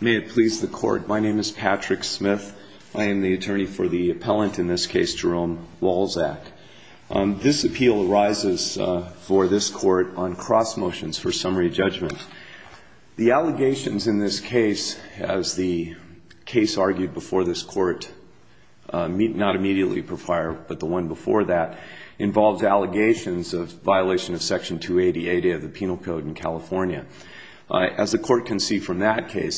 May it please the Court, my name is Patrick Smith. I am the attorney for the appellant in this case, Jerome Walczak. This appeal arises for this Court on cross-motions for summary judgment. The allegations in this case, as the case argued before this Court, not immediately prior, but the one before that, involves allegations of violation of the statute of limitations. The statute of limitations,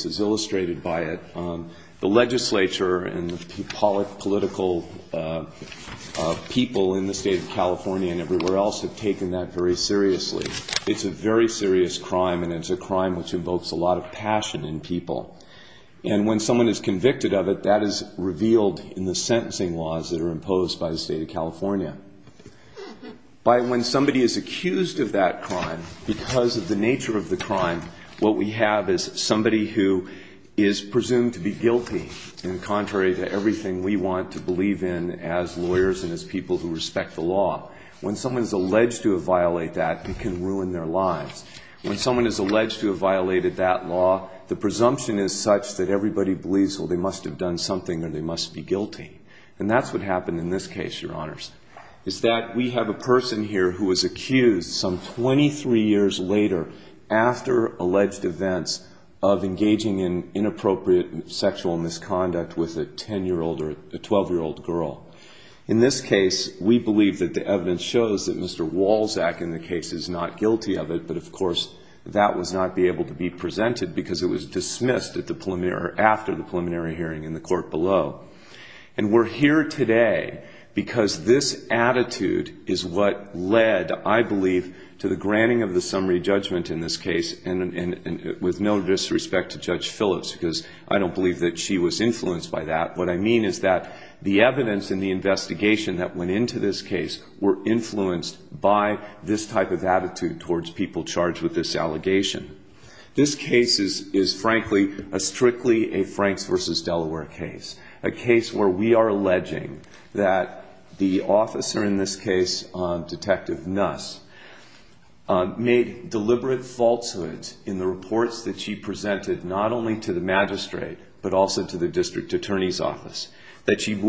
as illustrated by it, the legislature and the political people in the state of California and everywhere else have taken that very seriously. It's a very serious crime, and it's a crime which invokes a lot of passion in people. And when someone is convicted of it, that is revealed in the sentencing laws that are imposed by the state of California. When somebody is accused of that crime, because of the nature of the crime, what we have is somebody who is presumed to be guilty in contrary to everything we want to believe in as lawyers and as people who respect the law. When someone is alleged to have violated that, it can ruin their lives. When someone is alleged to have violated that law, the presumption is such that everybody believes, well, they must have done something or they must be guilty. And that's what happened in this case, Your Honors, is that we have a person here who was accused some 23 years later after alleged events of engaging in inappropriate sexual misconduct with a 10-year-old or a 12-year-old girl. In this case, we believe that the evidence shows that Mr. Walczak in the case is not guilty of it, but of course that was not able to be presented because it was dismissed after the preliminary hearing in the court below. And we're here today because this attitude is what led, I believe, to the granting of the summary judgment in this case, and with no disrespect to Judge Phillips, because I don't believe that she was influenced by that. What I mean is that the evidence in the investigation that went into this case were influenced by this type of attitude towards people charged with this allegation. This case is, frankly, a strictly a Franks v. Delaware case, a case where we are alleging that the officer in this case, Detective Nuss, made deliberate falsehoods in the reports that she presented not only to the magistrate, but also to the district attorney's office, that she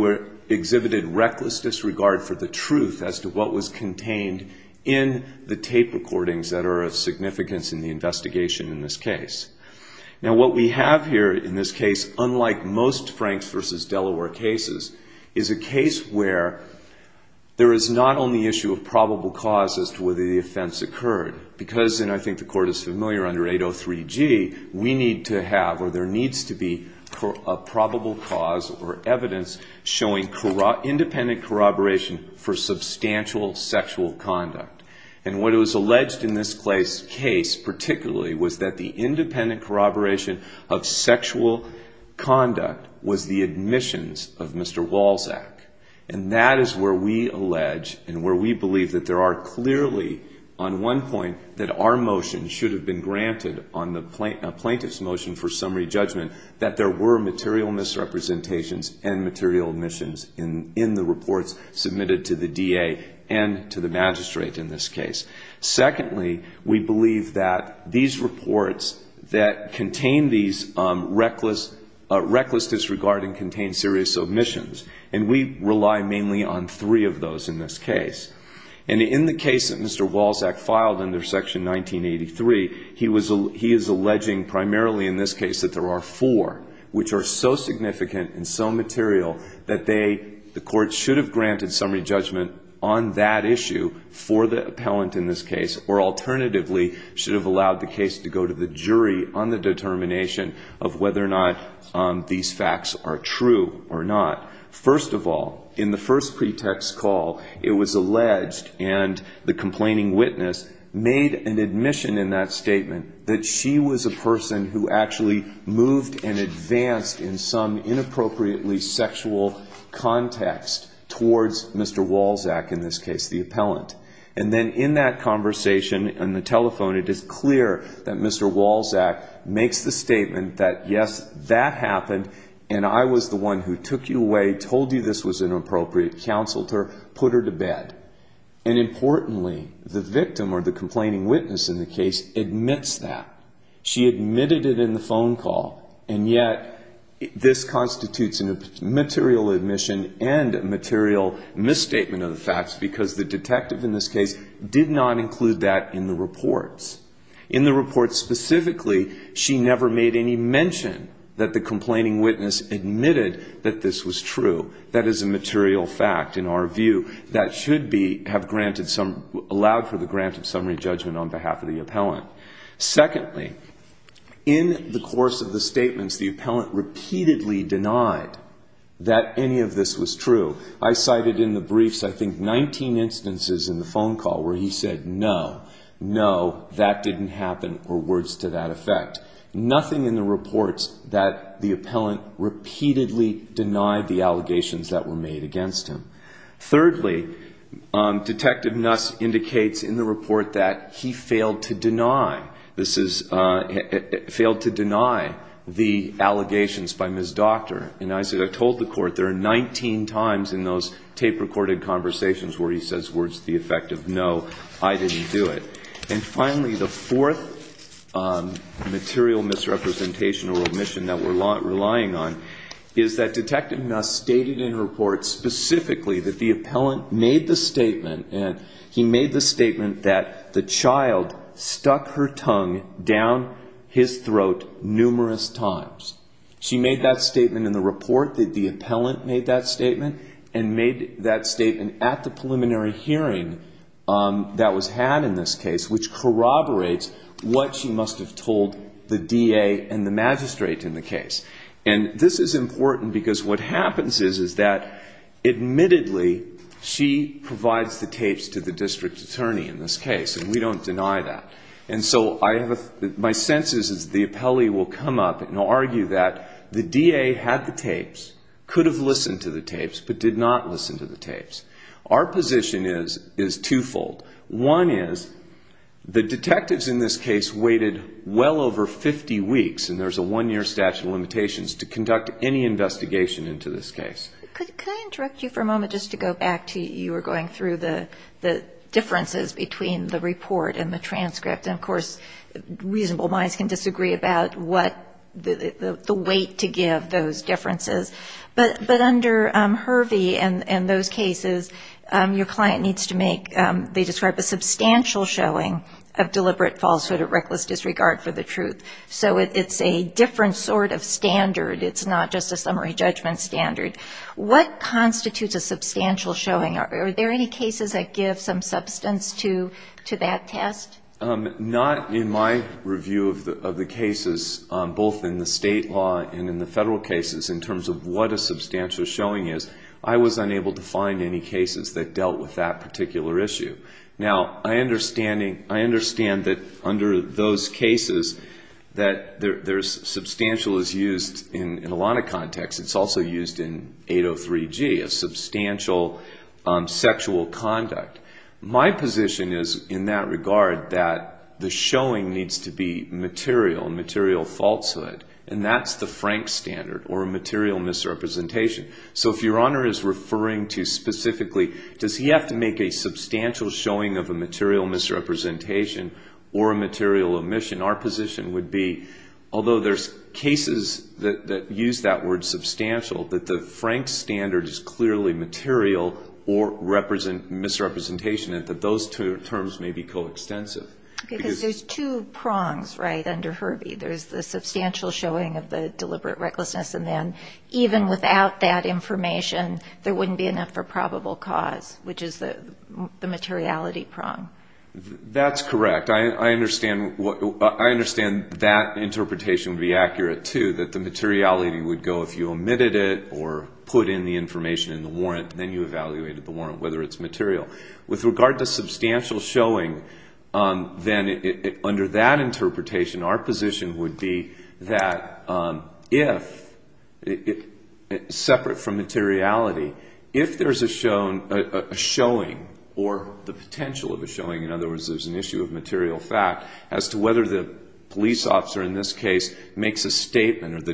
exhibited reckless disregard for the truth as to what was contained in the tape recordings that are of significance in the investigation in this case. Now what we have here in this case, unlike most Franks v. Delaware cases, is a case where there is not only issue of probable cause as to whether the offense occurred, because, and I think the court is familiar, under 803G, we need to have, or there needs to be, a probable cause or evidence showing independent corroboration for substantial sexual conduct. And what was alleged in this case, particularly, was that the independent corroboration of sexual conduct was the admissions of Mr. Walczak. And that is where we allege and where we believe that there are clearly, on one point, that our motion should have been granted on the plaintiff's motion for summary judgment, that there were misrepresentations and material omissions in the reports submitted to the D.A. and to the magistrate in this case. Secondly, we believe that these reports that contained these reckless disregard and contained serious omissions, and we rely mainly on three of those in this case. And in the case that Mr. Walczak filed under Section 1983, he is alleging primarily in this case that there are four, which are so significant and so material that they, the court should have granted summary judgment on that issue for the appellant in this case, or alternatively, should have allowed the case to go to the jury on the determination of whether or not these facts are true or not. First of all, in the first pretext call, it was alleged, and the complaining witness made an admission in that statement, that she was a person who actually moved and advanced in some inappropriately sexual context towards Mr. Walczak, in this case, the appellant. And then in that conversation, in the telephone, it is clear that Mr. Walczak makes the statement that, yes, that happened, and I was the one who took you away, told you this was inappropriate, counseled her, put her to bed. And importantly, the victim, or the complaining witness in the case, admits that. She admitted it in the phone call, and yet this constitutes a material admission and a material misstatement of the facts, because the detective in this case did not include that in the reports. In the reports specifically, she never made any mention that the complaining witness admitted that this was true. That is a material fact, in our view, that should have allowed for the granted summary judgment on behalf of the appellant. Secondly, in the course of the statements, the appellant repeatedly denied that any of this was true. I cited in the briefs, I think, 19 instances in the phone call where he said, no, no, that didn't happen, or words to that effect. Nothing in the reports that the appellant repeatedly denied the allegations that were made against him. Thirdly, Detective Nuss indicates in the report that he failed to deny, failed to deny the allegations by Ms. Docter. And I said, I told the court, there are 19 times in those tape recorded conversations where he says words to the effect of, no, I didn't do it. And finally, the fourth material misrepresentation or omission that we're relying on is that Detective Nuss stated in her report specifically that the appellant made the statement, he made the statement that the child stuck her tongue down his throat numerous times. She made that statement in the report, the appellant made that statement, and made that statement at the preliminary hearing that was had in this case, which corroborates what she must have told the DA and the magistrate in the case. And this is important because what happens is that, admittedly, she provides the tapes to the district attorney in this case, and we don't deny that. And so I have a, my sense is that the appellee will come up and argue that the DA had the tapes, could have listened to the tapes, but did not listen to the tapes. Our position is twofold. One is, the detectives in this case waited well over 50 weeks, and there's a one-year statute of limitations, to conduct any investigation into this case. Could I interrupt you for a moment just to go back to, you were going through the differences between the report and the transcript. And of course, reasonable minds can disagree about what the weight to give those differences. But under Hervey and those cases, your client needs to make, they describe a substantial showing of deliberate falsehood or reckless disregard for the truth. So it's a different sort of standard. It's not just a summary judgment standard. What constitutes a substantial showing? Are there any cases that give some substance to that test? Not in my review of the cases, both in the state law and in the federal cases, in terms of what a substantial showing is. I was unable to find any cases that dealt with that particular issue. Now, I understand that under those cases, that there's substantial is used in a lot of contexts. It's also used in 803G, a substantial sexual conduct. My position is in that regard that the showing needs to be material and material falsehood. And that's the Frank standard or material misrepresentation. So if your honor is referring to specifically, does he have to make a substantial showing of a material misrepresentation or a material omission? Our position would be, although there's cases that use that word substantial, that the Frank standard is clearly material or misrepresentation, and that those two terms may be coextensive. Because there's two prongs, right, under Herbie. There's the substantial showing of the deliberate recklessness, and then even without that information, there wouldn't be enough for probable cause, which is the materiality prong. That's correct. I understand that interpretation would be accurate, too, that the materiality would go, if you omitted it or put in the information in the warrant, then you evaluated the warrant, whether it's material. With regard to substantial showing, then under that interpretation, our position would be that if, separate from materiality, if there's a showing or the potential of a showing, in other words, there's an issue of material fact, as to whether the police makes a statement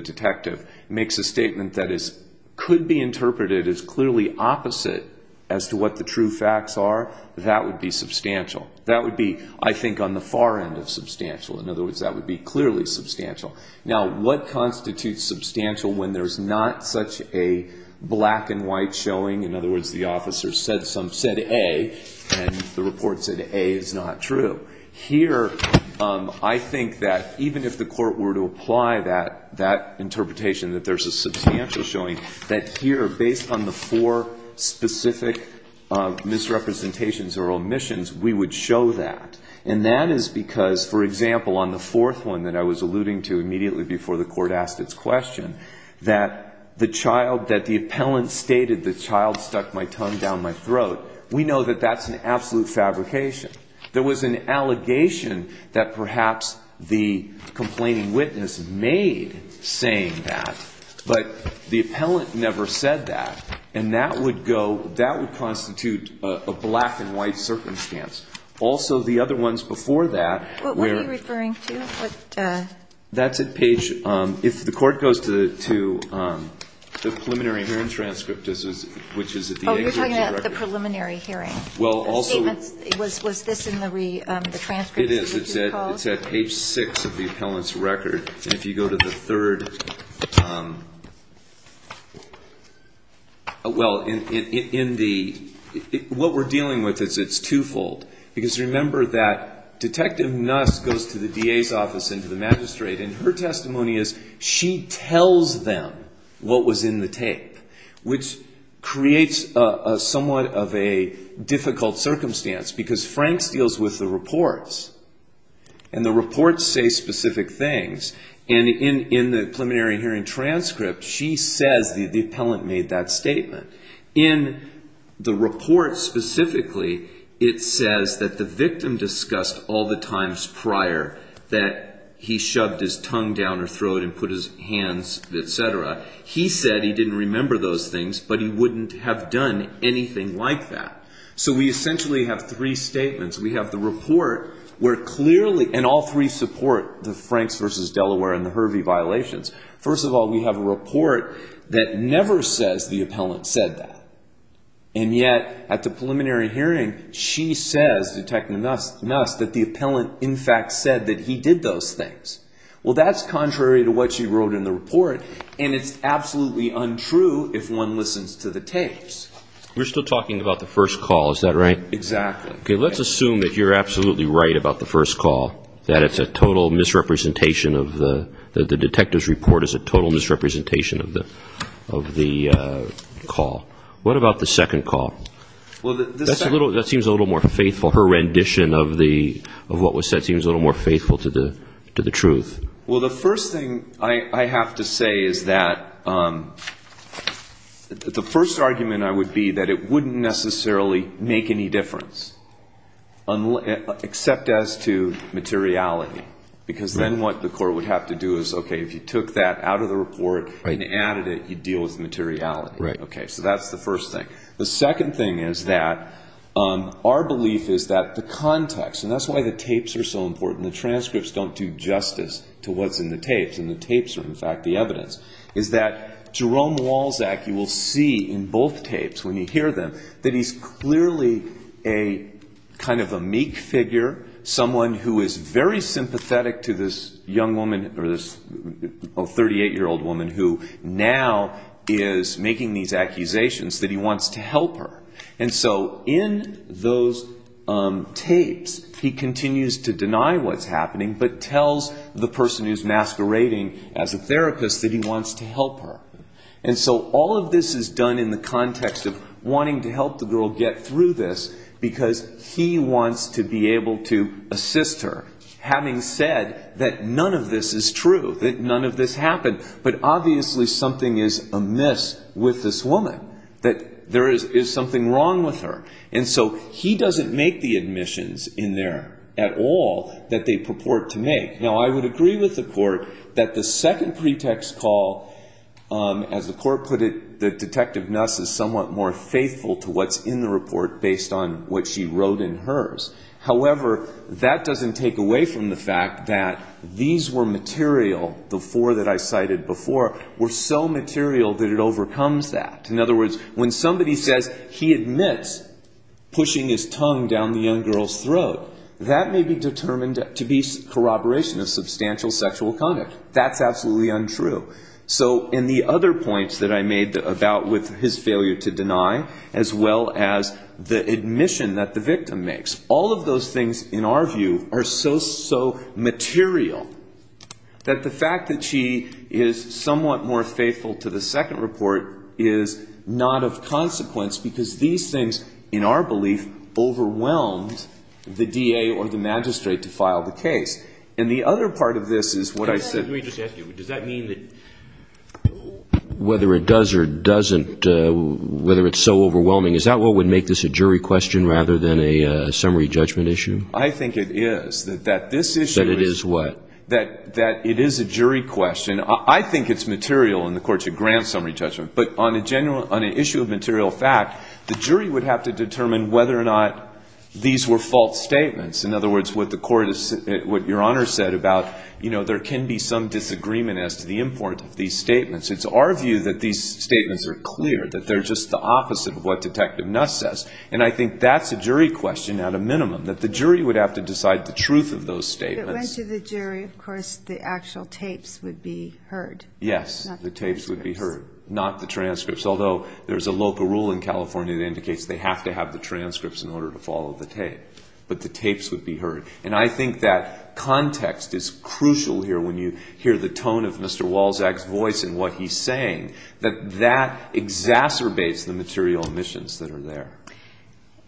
that could be interpreted as clearly opposite as to what the true facts are, that would be substantial. That would be, I think, on the far end of substantial. In other words, that would be clearly substantial. Now, what constitutes substantial when there's not such a black and white showing? In other words, the officer said A, and the report said A is not true. Here, I think that even if the court were to apply that interpretation, that there's a substantial showing, that here, based on the four specific misrepresentations or omissions, we would show that. And that is because, for example, on the fourth one that I was alluding to immediately before the court asked its question, that the child, that the appellant stated, the child stuck my tongue down my throat, we know that that's an absolute fabrication. There was an allegation that perhaps the complaining witness made saying that, but the appellant never said that. And that would go, that would constitute a black and white circumstance. Also the other ones before that were What are you referring to? That's at page, if the court goes to the preliminary hearing transcript, which is at the executive record. Yeah, the preliminary hearing. The statements, was this in the transcript of the two calls? It is. It's at page six of the appellant's record. And if you go to the third, well, in the, what we're dealing with is it's twofold. Because remember that Detective Nuss goes to the DA's office and to the magistrate, and her testimony is she tells them what was in the tape, which creates a somewhat of a difficult circumstance because Franks deals with the reports. And the reports say specific things. And in the preliminary hearing transcript, she says the appellant made that statement. In the report specifically, it says that the victim discussed all the times prior that he shoved his tongue down her throat and put his hands, et cetera. He said he didn't remember those things, but he wouldn't have done anything like that. So we essentially have three statements. We have the report where clearly, and all three support the Franks versus Delaware and the Hervey violations. First of all, we have a report that never says the appellant said that. And yet, at the preliminary hearing, she says, Detective Nuss, that the appellant in fact said that he did those things. Well, that's contrary to what she wrote in the report, and it's absolutely untrue if one listens to the tapes. We're still talking about the first call. Is that right? Exactly. Let's assume that you're absolutely right about the first call, that it's a total misrepresentation of the, that the detective's report is a total misrepresentation of the call. What about the second call? That seems a little more faithful. Her rendition of what was said seems a little more faithful to the truth. Well, the first thing I have to say is that, the first argument I would be that it wouldn't necessarily make any difference, except as to materiality. Because then what the court would have to do is, okay, if you took that out of the report and added it, you'd deal with materiality. Okay, so that's the first thing. The second thing is that our belief is that the context, and that's why the tapes are so important, the transcripts don't do justice to what's in the tapes, and the tapes are in fact the evidence, is that Jerome Walczak, you will see in both tapes when you hear them, that he's clearly a kind of a meek figure, someone who is very sympathetic to this young woman, or this 38-year-old woman who now is making these accusations that he wants to help her. And so in those tapes, he continues to deny what's happening, but tells the person who's masquerading as a therapist that he wants to help her. And so all of this is done in the context of wanting to help the girl get through this, because he wants to be able to assist her, having said that none of this is true, that none of this happened, but obviously something is amiss with this woman, that there is a wall that they purport to make. Now, I would agree with the court that the second pretext call, as the court put it, that Detective Nuss is somewhat more faithful to what's in the report based on what she wrote in hers. However, that doesn't take away from the fact that these were material, the four that I cited before, were so material that it overcomes that. In other words, when somebody says he admits pushing his tongue down the young girl's throat, he's determined to be corroboration of substantial sexual conduct. That's absolutely untrue. So in the other points that I made about with his failure to deny, as well as the admission that the victim makes, all of those things, in our view, are so, so material that the fact that she is somewhat more faithful to the second report is not of consequence because these things, in our belief, overwhelmed the DA or the magistrate to file the case. And the other part of this is what I said – Let me just ask you, does that mean that – Whether it does or doesn't, whether it's so overwhelming, is that what would make this a jury question rather than a summary judgment issue? I think it is, that this issue is – That it is what? That it is a jury question. I think it's material in the court to grant summary judgment, but on an issue of material fact, the jury would have to determine whether or not these were false statements. In other words, what the court – what Your Honor said about there can be some disagreement as to the importance of these statements. It's our view that these statements are clear, that they're just the opposite of what Detective Nuss says. And I think that's a jury question at a minimum, that the jury would have to decide the truth of those statements. If it went to the jury, of course, the actual tapes would be heard. Yes, the tapes would be heard, not the transcripts, although there's a local rule in California that indicates they have to have the transcripts in order to follow the tape. But the tapes would be heard. And I think that context is crucial here when you hear the tone of Mr. Walczak's voice and what he's saying, that that exacerbates the material omissions that are there.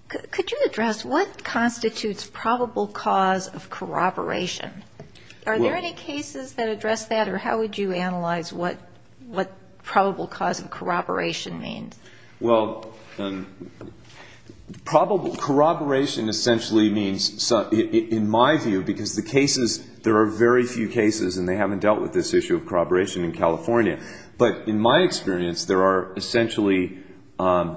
Could you address what constitutes probable cause of corroboration? Are there any cases that address that? Or how would you analyze what probable cause of corroboration means? Well, probable – corroboration essentially means – in my view, because the cases – there are very few cases and they haven't dealt with this issue of corroboration in California. But in my experience, there are essentially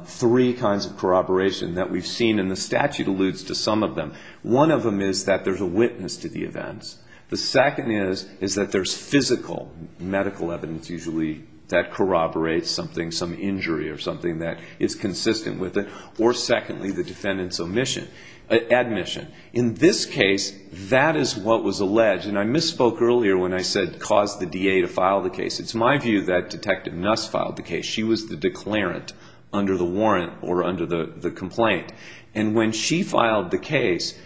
three kinds of corroboration that we've seen, and the statute alludes to some of them. One of them is that there's a witness to the events. The second is that there's physical medical evidence usually that corroborates something, some injury or something that is consistent with it. Or secondly, the defendant's omission – admission. In this case, that is what was alleged. And I misspoke earlier when I said, caused the DA to file the case. It's my view that Detective Nuss filed the case. She was the declarant under the warrant or under the complaint. And when she filed the case,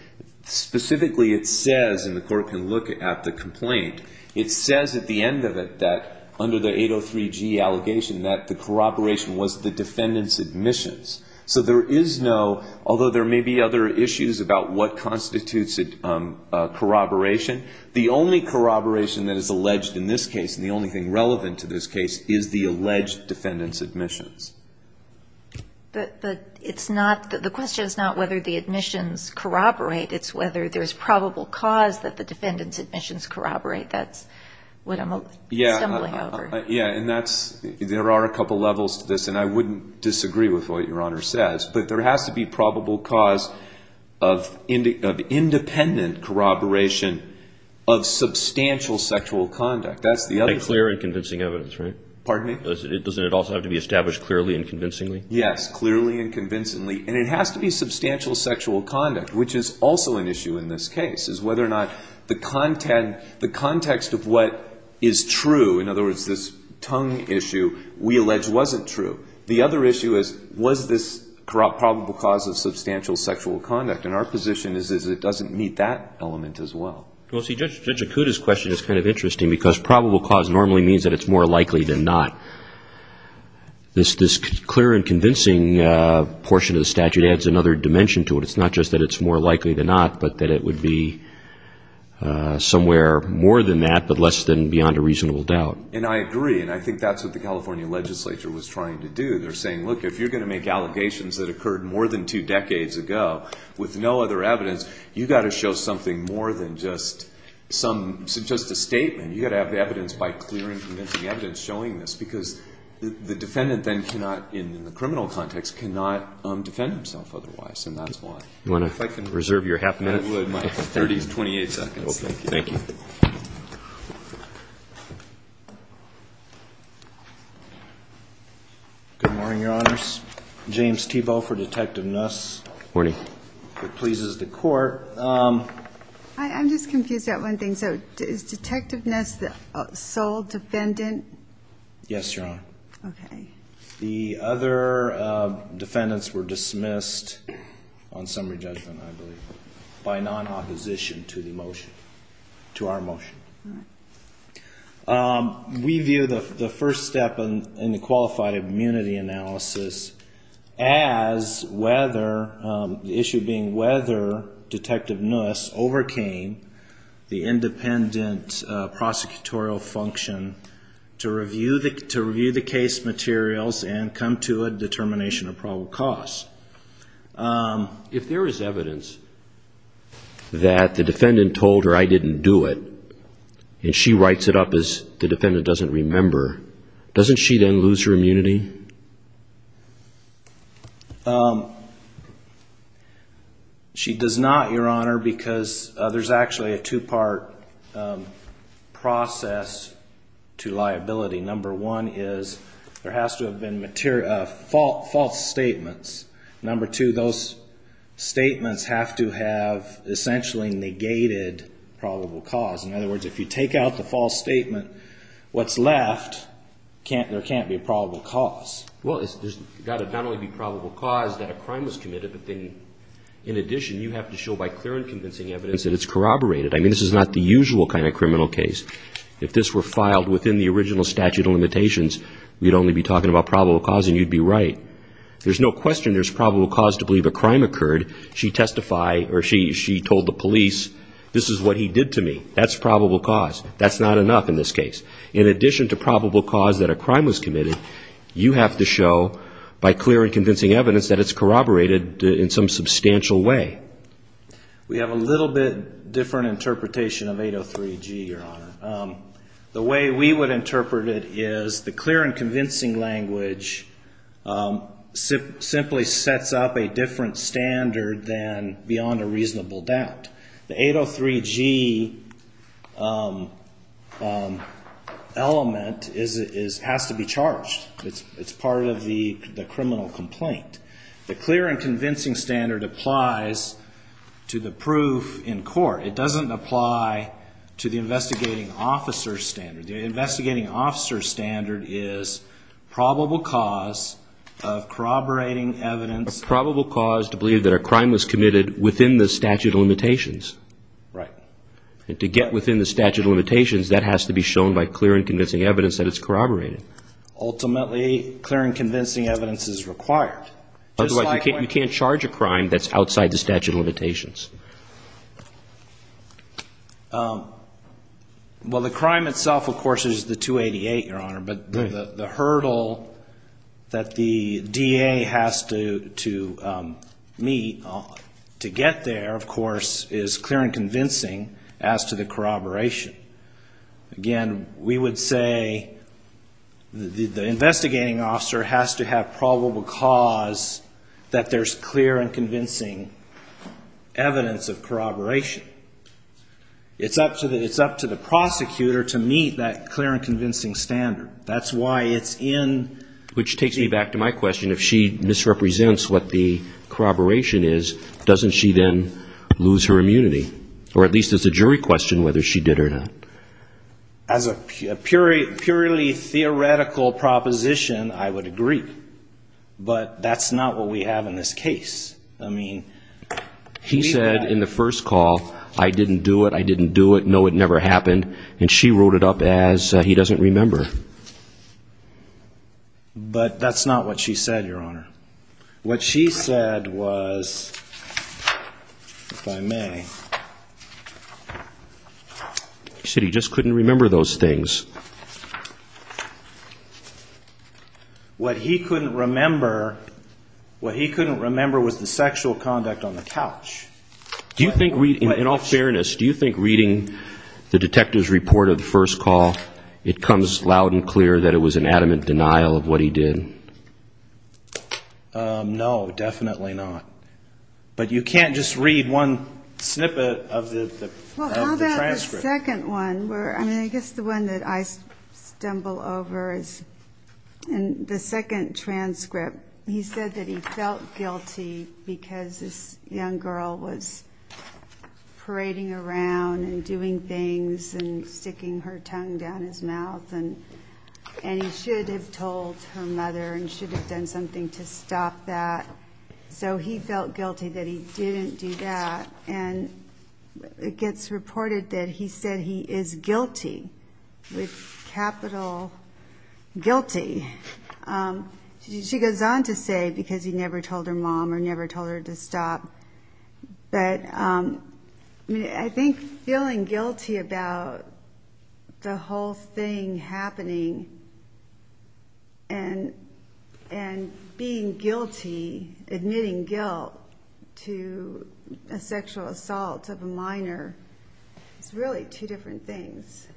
specifically it says – and the court can look at the complaint – it says at the end of it that, under the 803G allegation, that the corroboration was the defendant's admissions. So there is no – although there may be other issues about what constitutes a corroboration, the only corroboration that is alleged in this case, and the only thing relevant to this case, is the alleged defendant's admissions. But it's not – the question is not whether the admissions corroborate. It's whether there's probable cause that the defendant's admissions corroborate. That's what I'm stumbling over. Yeah. And that's – there are a couple levels to this. And I wouldn't disagree with what Your Honor says. But there has to be probable cause of independent corroboration of substantial sexual conduct. That's the other thing. Like clear and convincing evidence, right? Pardon me? Doesn't it also have to be established clearly and convincingly? Yes. Clearly and convincingly. And it has to be substantial sexual conduct, which is also an issue in this case, is whether or not the context of what is true – in other words, this tongue issue – we allege wasn't true. The other issue is, was this probable cause of substantial sexual conduct? And our position is that it doesn't meet that element as well. Well, see, Judge Acuda's question is kind of interesting, because probable cause normally means that it's more likely than not. This clear and convincing portion of the statute adds another dimension to it. It's not just that it's more likely than not, but that it would be somewhere more than that, but less than beyond a reasonable doubt. And I agree. And I think that's what the California legislature was trying to do. They're saying, look, if you're going to make allegations that occurred more than two decades ago with no other evidence, you've got to show something more than just some – just a statement. You've got to have evidence by clear and convincing evidence showing this, because the defendant then cannot, in the criminal context, cannot defend himself otherwise. And that's why. Do you want to reserve your half a minute? I would. My 30 to 28 seconds. Okay. Thank you. Good morning, Your Honors. James Thiebaud for Detective Nuss. Morning. If it pleases the Court. I'm just confused about one thing. So is Detective Nuss the sole defendant? Yes, Your Honor. Okay. The other defendants were dismissed on summary judgment, I believe, by non-opposition to the motion – to our motion. All right. We view the first step in the qualified immunity analysis as whether – the issue being whether Detective Nuss overcame the independent prosecutorial function to review the case materials and come to a determination of probable cause. If there is evidence that the defendant told her, I didn't do it, and she writes it up as the defendant doesn't remember, doesn't she then lose her immunity? She does not, Your Honor, because there's actually a two-part process to liability. Number one is there has to have been false statements. Number two, those statements have to have essentially negated probable cause. In other words, if you take out the false statement, what's left, there can't be probable cause. Well, there's got to not only be probable cause that a crime was committed, but then, in addition, you have to show by clear and convincing evidence that it's corroborated. I mean, this is not the usual kind of criminal case. If this were filed within the original statute of limitations, we'd only be talking about probable cause and you'd be right. There's no question there's probable cause to believe a crime occurred. She testified, or she told the police, this is what he did to me. That's probable cause. That's not enough in this case. In addition to probable cause that a crime was committed, you have to show by clear and convincing evidence that it's corroborated in some substantial way. We have a little bit different interpretation of 803G, Your Honor. The way we would interpret it is the clear and convincing language simply sets up a different standard than beyond a reasonable doubt. The 803G element has to be charged. It's part of the criminal complaint. The clear and convincing standard applies to the proof in court. It doesn't apply to the investigating officer's standard. The investigating officer's standard is probable cause of corroborating evidence. It's probable cause to believe that a crime was committed within the statute of limitations. Right. To get within the statute of limitations, that has to be shown by clear and convincing evidence that it's corroborated. Ultimately, clear and convincing evidence is required. Otherwise, you can't charge a crime that's outside the statute of limitations. Well, the crime itself, of course, is the 288, Your Honor. But the hurdle that the DA has to meet to get there, of course, is clear and convincing as to the corroboration. Again, we would say the investigating officer has to have probable cause that there's clear and convincing evidence of corroboration. It's up to the prosecutor to meet that clear and convincing standard. That's why it's in... Which takes me back to my question. If she misrepresents what the corroboration is, doesn't she then lose her immunity? Or at least it's a jury question whether she did or not. As a purely theoretical proposition, I would agree. But that's not what we have in this case. He said in the first call, I didn't do it, I didn't do it, no, it never happened. And she wrote it up as he doesn't remember. But that's not what she said, Your Honor. What she said was, if I may... She said he just couldn't remember those things. What he couldn't remember, what he couldn't remember was the sexual conduct on the couch. Do you think, in all fairness, do you think reading the detective's report of the first call, it comes loud and clear that it was an adamant denial of what he did? No, definitely not. But you can't just read one snippet of the transcript. Well, how about the second one? I guess the one that I stumble over is the second transcript. He said that he felt guilty because this young girl was parading around and doing things and sticking her tongue down his mouth and he should have told her mother and should have done something to stop that. So he felt guilty that he didn't do that. And it gets reported that he said he is guilty, with capital guilty. She goes on to say because he never told her mom or never told her to stop. But I think feeling guilty about the whole thing happening and being guilty, admitting guilt to a sexual assault of a minor, is really two different things.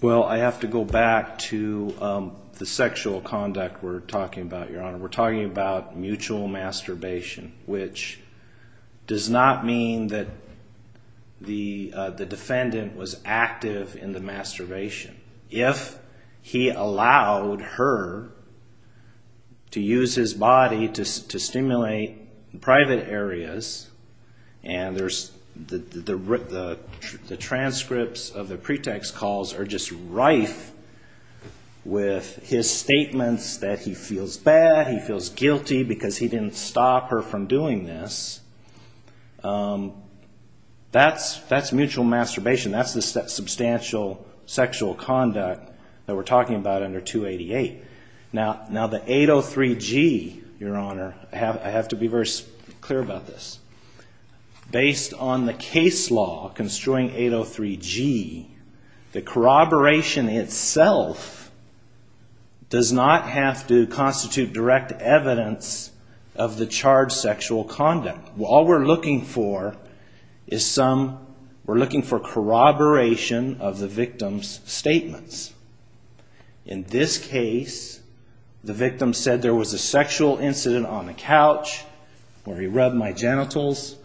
Well, I have to go back to the sexual conduct we're talking about, Your Honor. We're talking about mutual masturbation, which does not mean that the defendant was active in the masturbation. If he allowed her to use his body to stimulate private areas, and the transcripts of the pretext calls are just rife with his statements that he feels bad, he feels guilty, because he didn't stop her from doing this, that's mutual masturbation. That's the substantial sexual conduct that we're talking about under 288. Now the 803G, Your Honor, I have to be very clear about this. Based on the case law construing 803G, the corroboration itself does not have to constitute direct evidence of the charged sexual conduct. All we're looking for is some, we're looking for corroboration of the victim's statements. In this case, the victim said there was a sexual incident on the couch where he rubbed my genitals.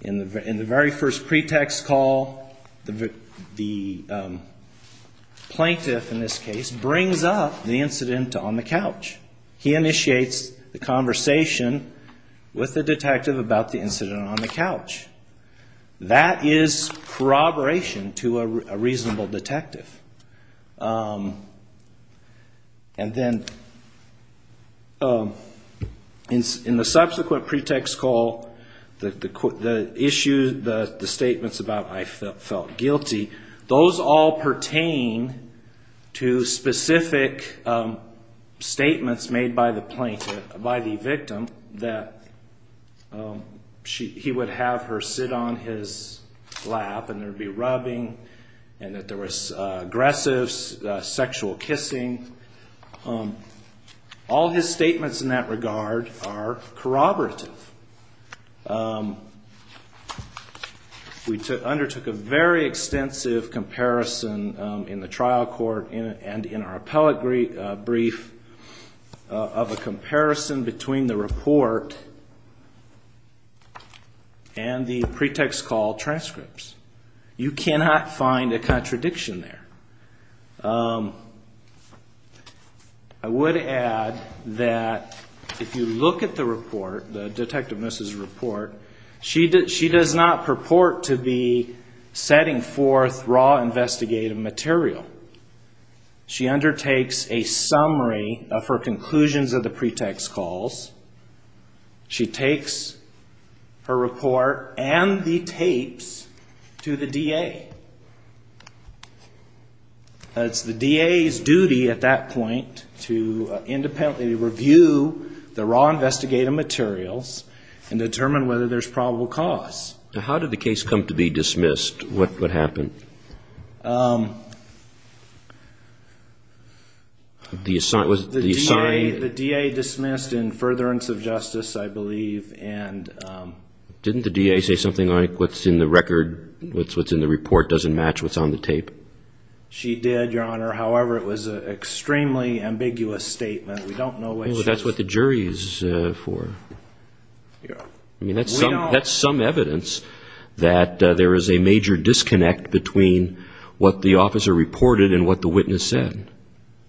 In the very first pretext call, the plaintiff, in this case, brings up the incident on the couch. He initiates the conversation with the detective about the incident on the couch. That is corroboration to a reasonable detective. In the subsequent pretext call, the statements about I felt guilty, those all pertain to specific statements made by the plaintiff, by the victim, that he would have her sit on his lap and there would be rubbing and that there was aggressive sexual kissing. All his statements in that regard are corroborative. We undertook a very extensive comparison in the trial court and in our appellate brief of a comparison between the report and the pretext call transcripts. You cannot find a contradiction there. I would add that if you look at the report, the detective's report, she does not purport to be setting forth raw investigative material. She undertakes a summary of her conclusions of the pretext calls. She takes her report and the tapes to the DA. It's the DA's duty at that point to independently review the raw investigative materials and determine whether there's probable cause. How did the case come to be dismissed? The DA dismissed in furtherance of justice, I believe. Didn't the DA say something like what's in the report doesn't match what's on the tape? She did, Your Honor. However, it was an extremely ambiguous statement. That's what the jury is for. That's some evidence that there is a major disconnect between what the officer reported and what the witness said.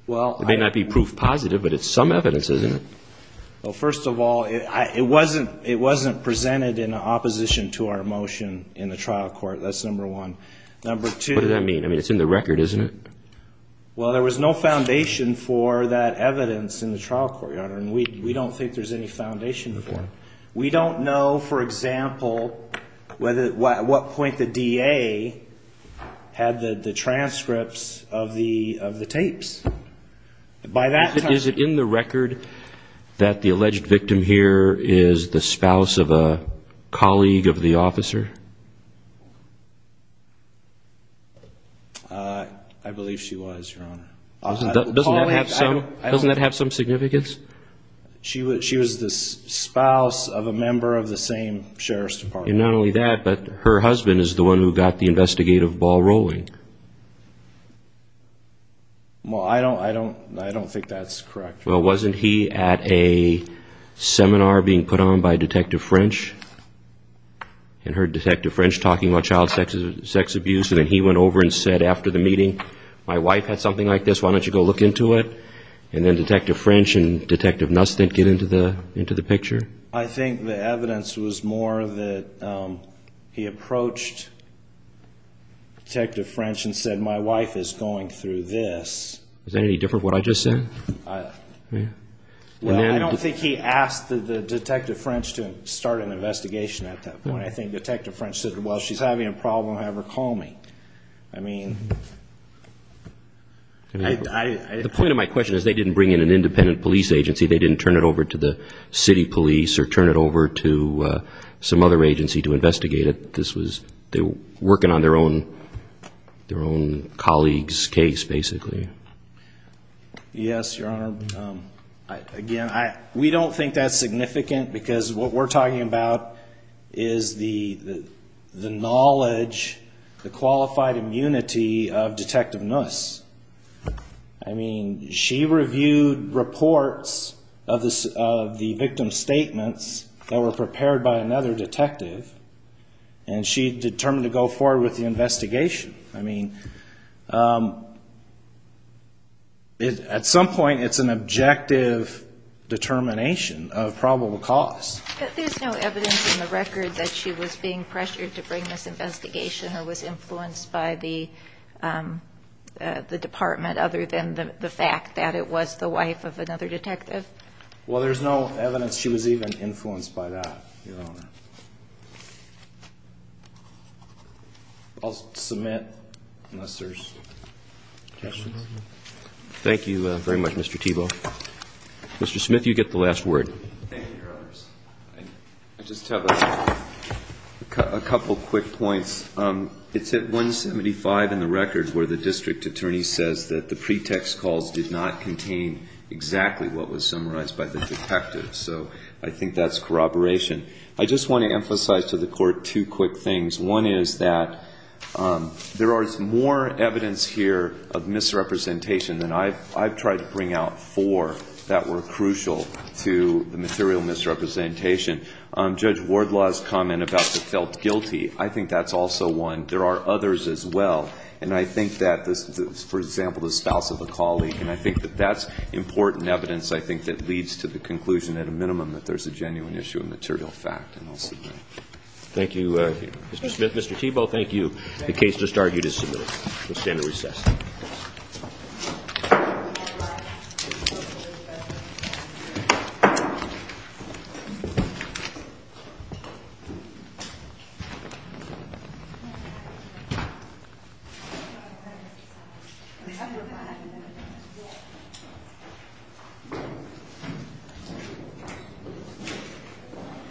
It may not be proof positive, but it's some evidence, isn't it? First of all, it wasn't presented in opposition to our motion in the trial court. What does that mean? It's in the record, isn't it? There was no foundation for that evidence in the trial court. We don't know, for example, at what point the DA had the transcripts of the tapes. Is it in the record that the alleged victim here is the spouse of a colleague of the officer? I believe she was, Your Honor. Doesn't that have some significance? She was the spouse of a member of the same Sheriff's Department. Not only that, but her husband is the one who got the investigative ball rolling. I don't think that's correct. Well, wasn't he at a seminar being put on by Detective French and heard Detective French talking about child sex abuse and then he went over and said after the meeting, my wife had something like this, why don't you go look into it? And then Detective French and Detective Nustin get into the picture? I think the evidence was more that he approached Detective French and said, my wife is going through this. Is that any different from what I just said? Well, I don't think he asked Detective French to start an investigation at that point. I think Detective French said, well, she's having a problem, have her call me. I mean... The point of my question is they didn't bring in an independent police agency. They didn't turn it over to the city police or turn it over to some other agency to investigate it. They were working on their own colleagues' case, basically. Yes, Your Honor. We don't think that's significant because what we're talking about is the knowledge, the qualified immunity of Detective Nustin. She reviewed reports of the victim's statements that were prepared by another detective and she determined to go forward with the investigation. At some point, it's an objective determination of probable cause. But there's no evidence in the record that she was being pressured to bring this investigation or was influenced by the department other than the fact that it was the wife of another detective? Well, there's no evidence she was even influenced by that, Your Honor. I'll submit unless there's questions. Thank you very much, Mr. Thiebaud. Mr. Smith, you get the last word. I just have a couple quick points. It's at 175 in the record where the district attorney says that the pretext calls did not contain exactly what was summarized by the detective. So I think that's corroboration. I just want to emphasize to the Court two quick things. One is that there is more evidence here of misrepresentation than I've tried to bring out four that were crucial to the material misrepresentation. Judge Wardlaw's comment about the felt guilty, I think that's also one. There are others as well. And I think that, for example, the spouse of a colleague and I think that that's important evidence that leads to the conclusion at a minimum that there's a genuine issue of material fact. Thank you, Mr. Smith. Mr. Thiebaud, thank you. The case just argued is submitted. We'll stand at recess. Thank you.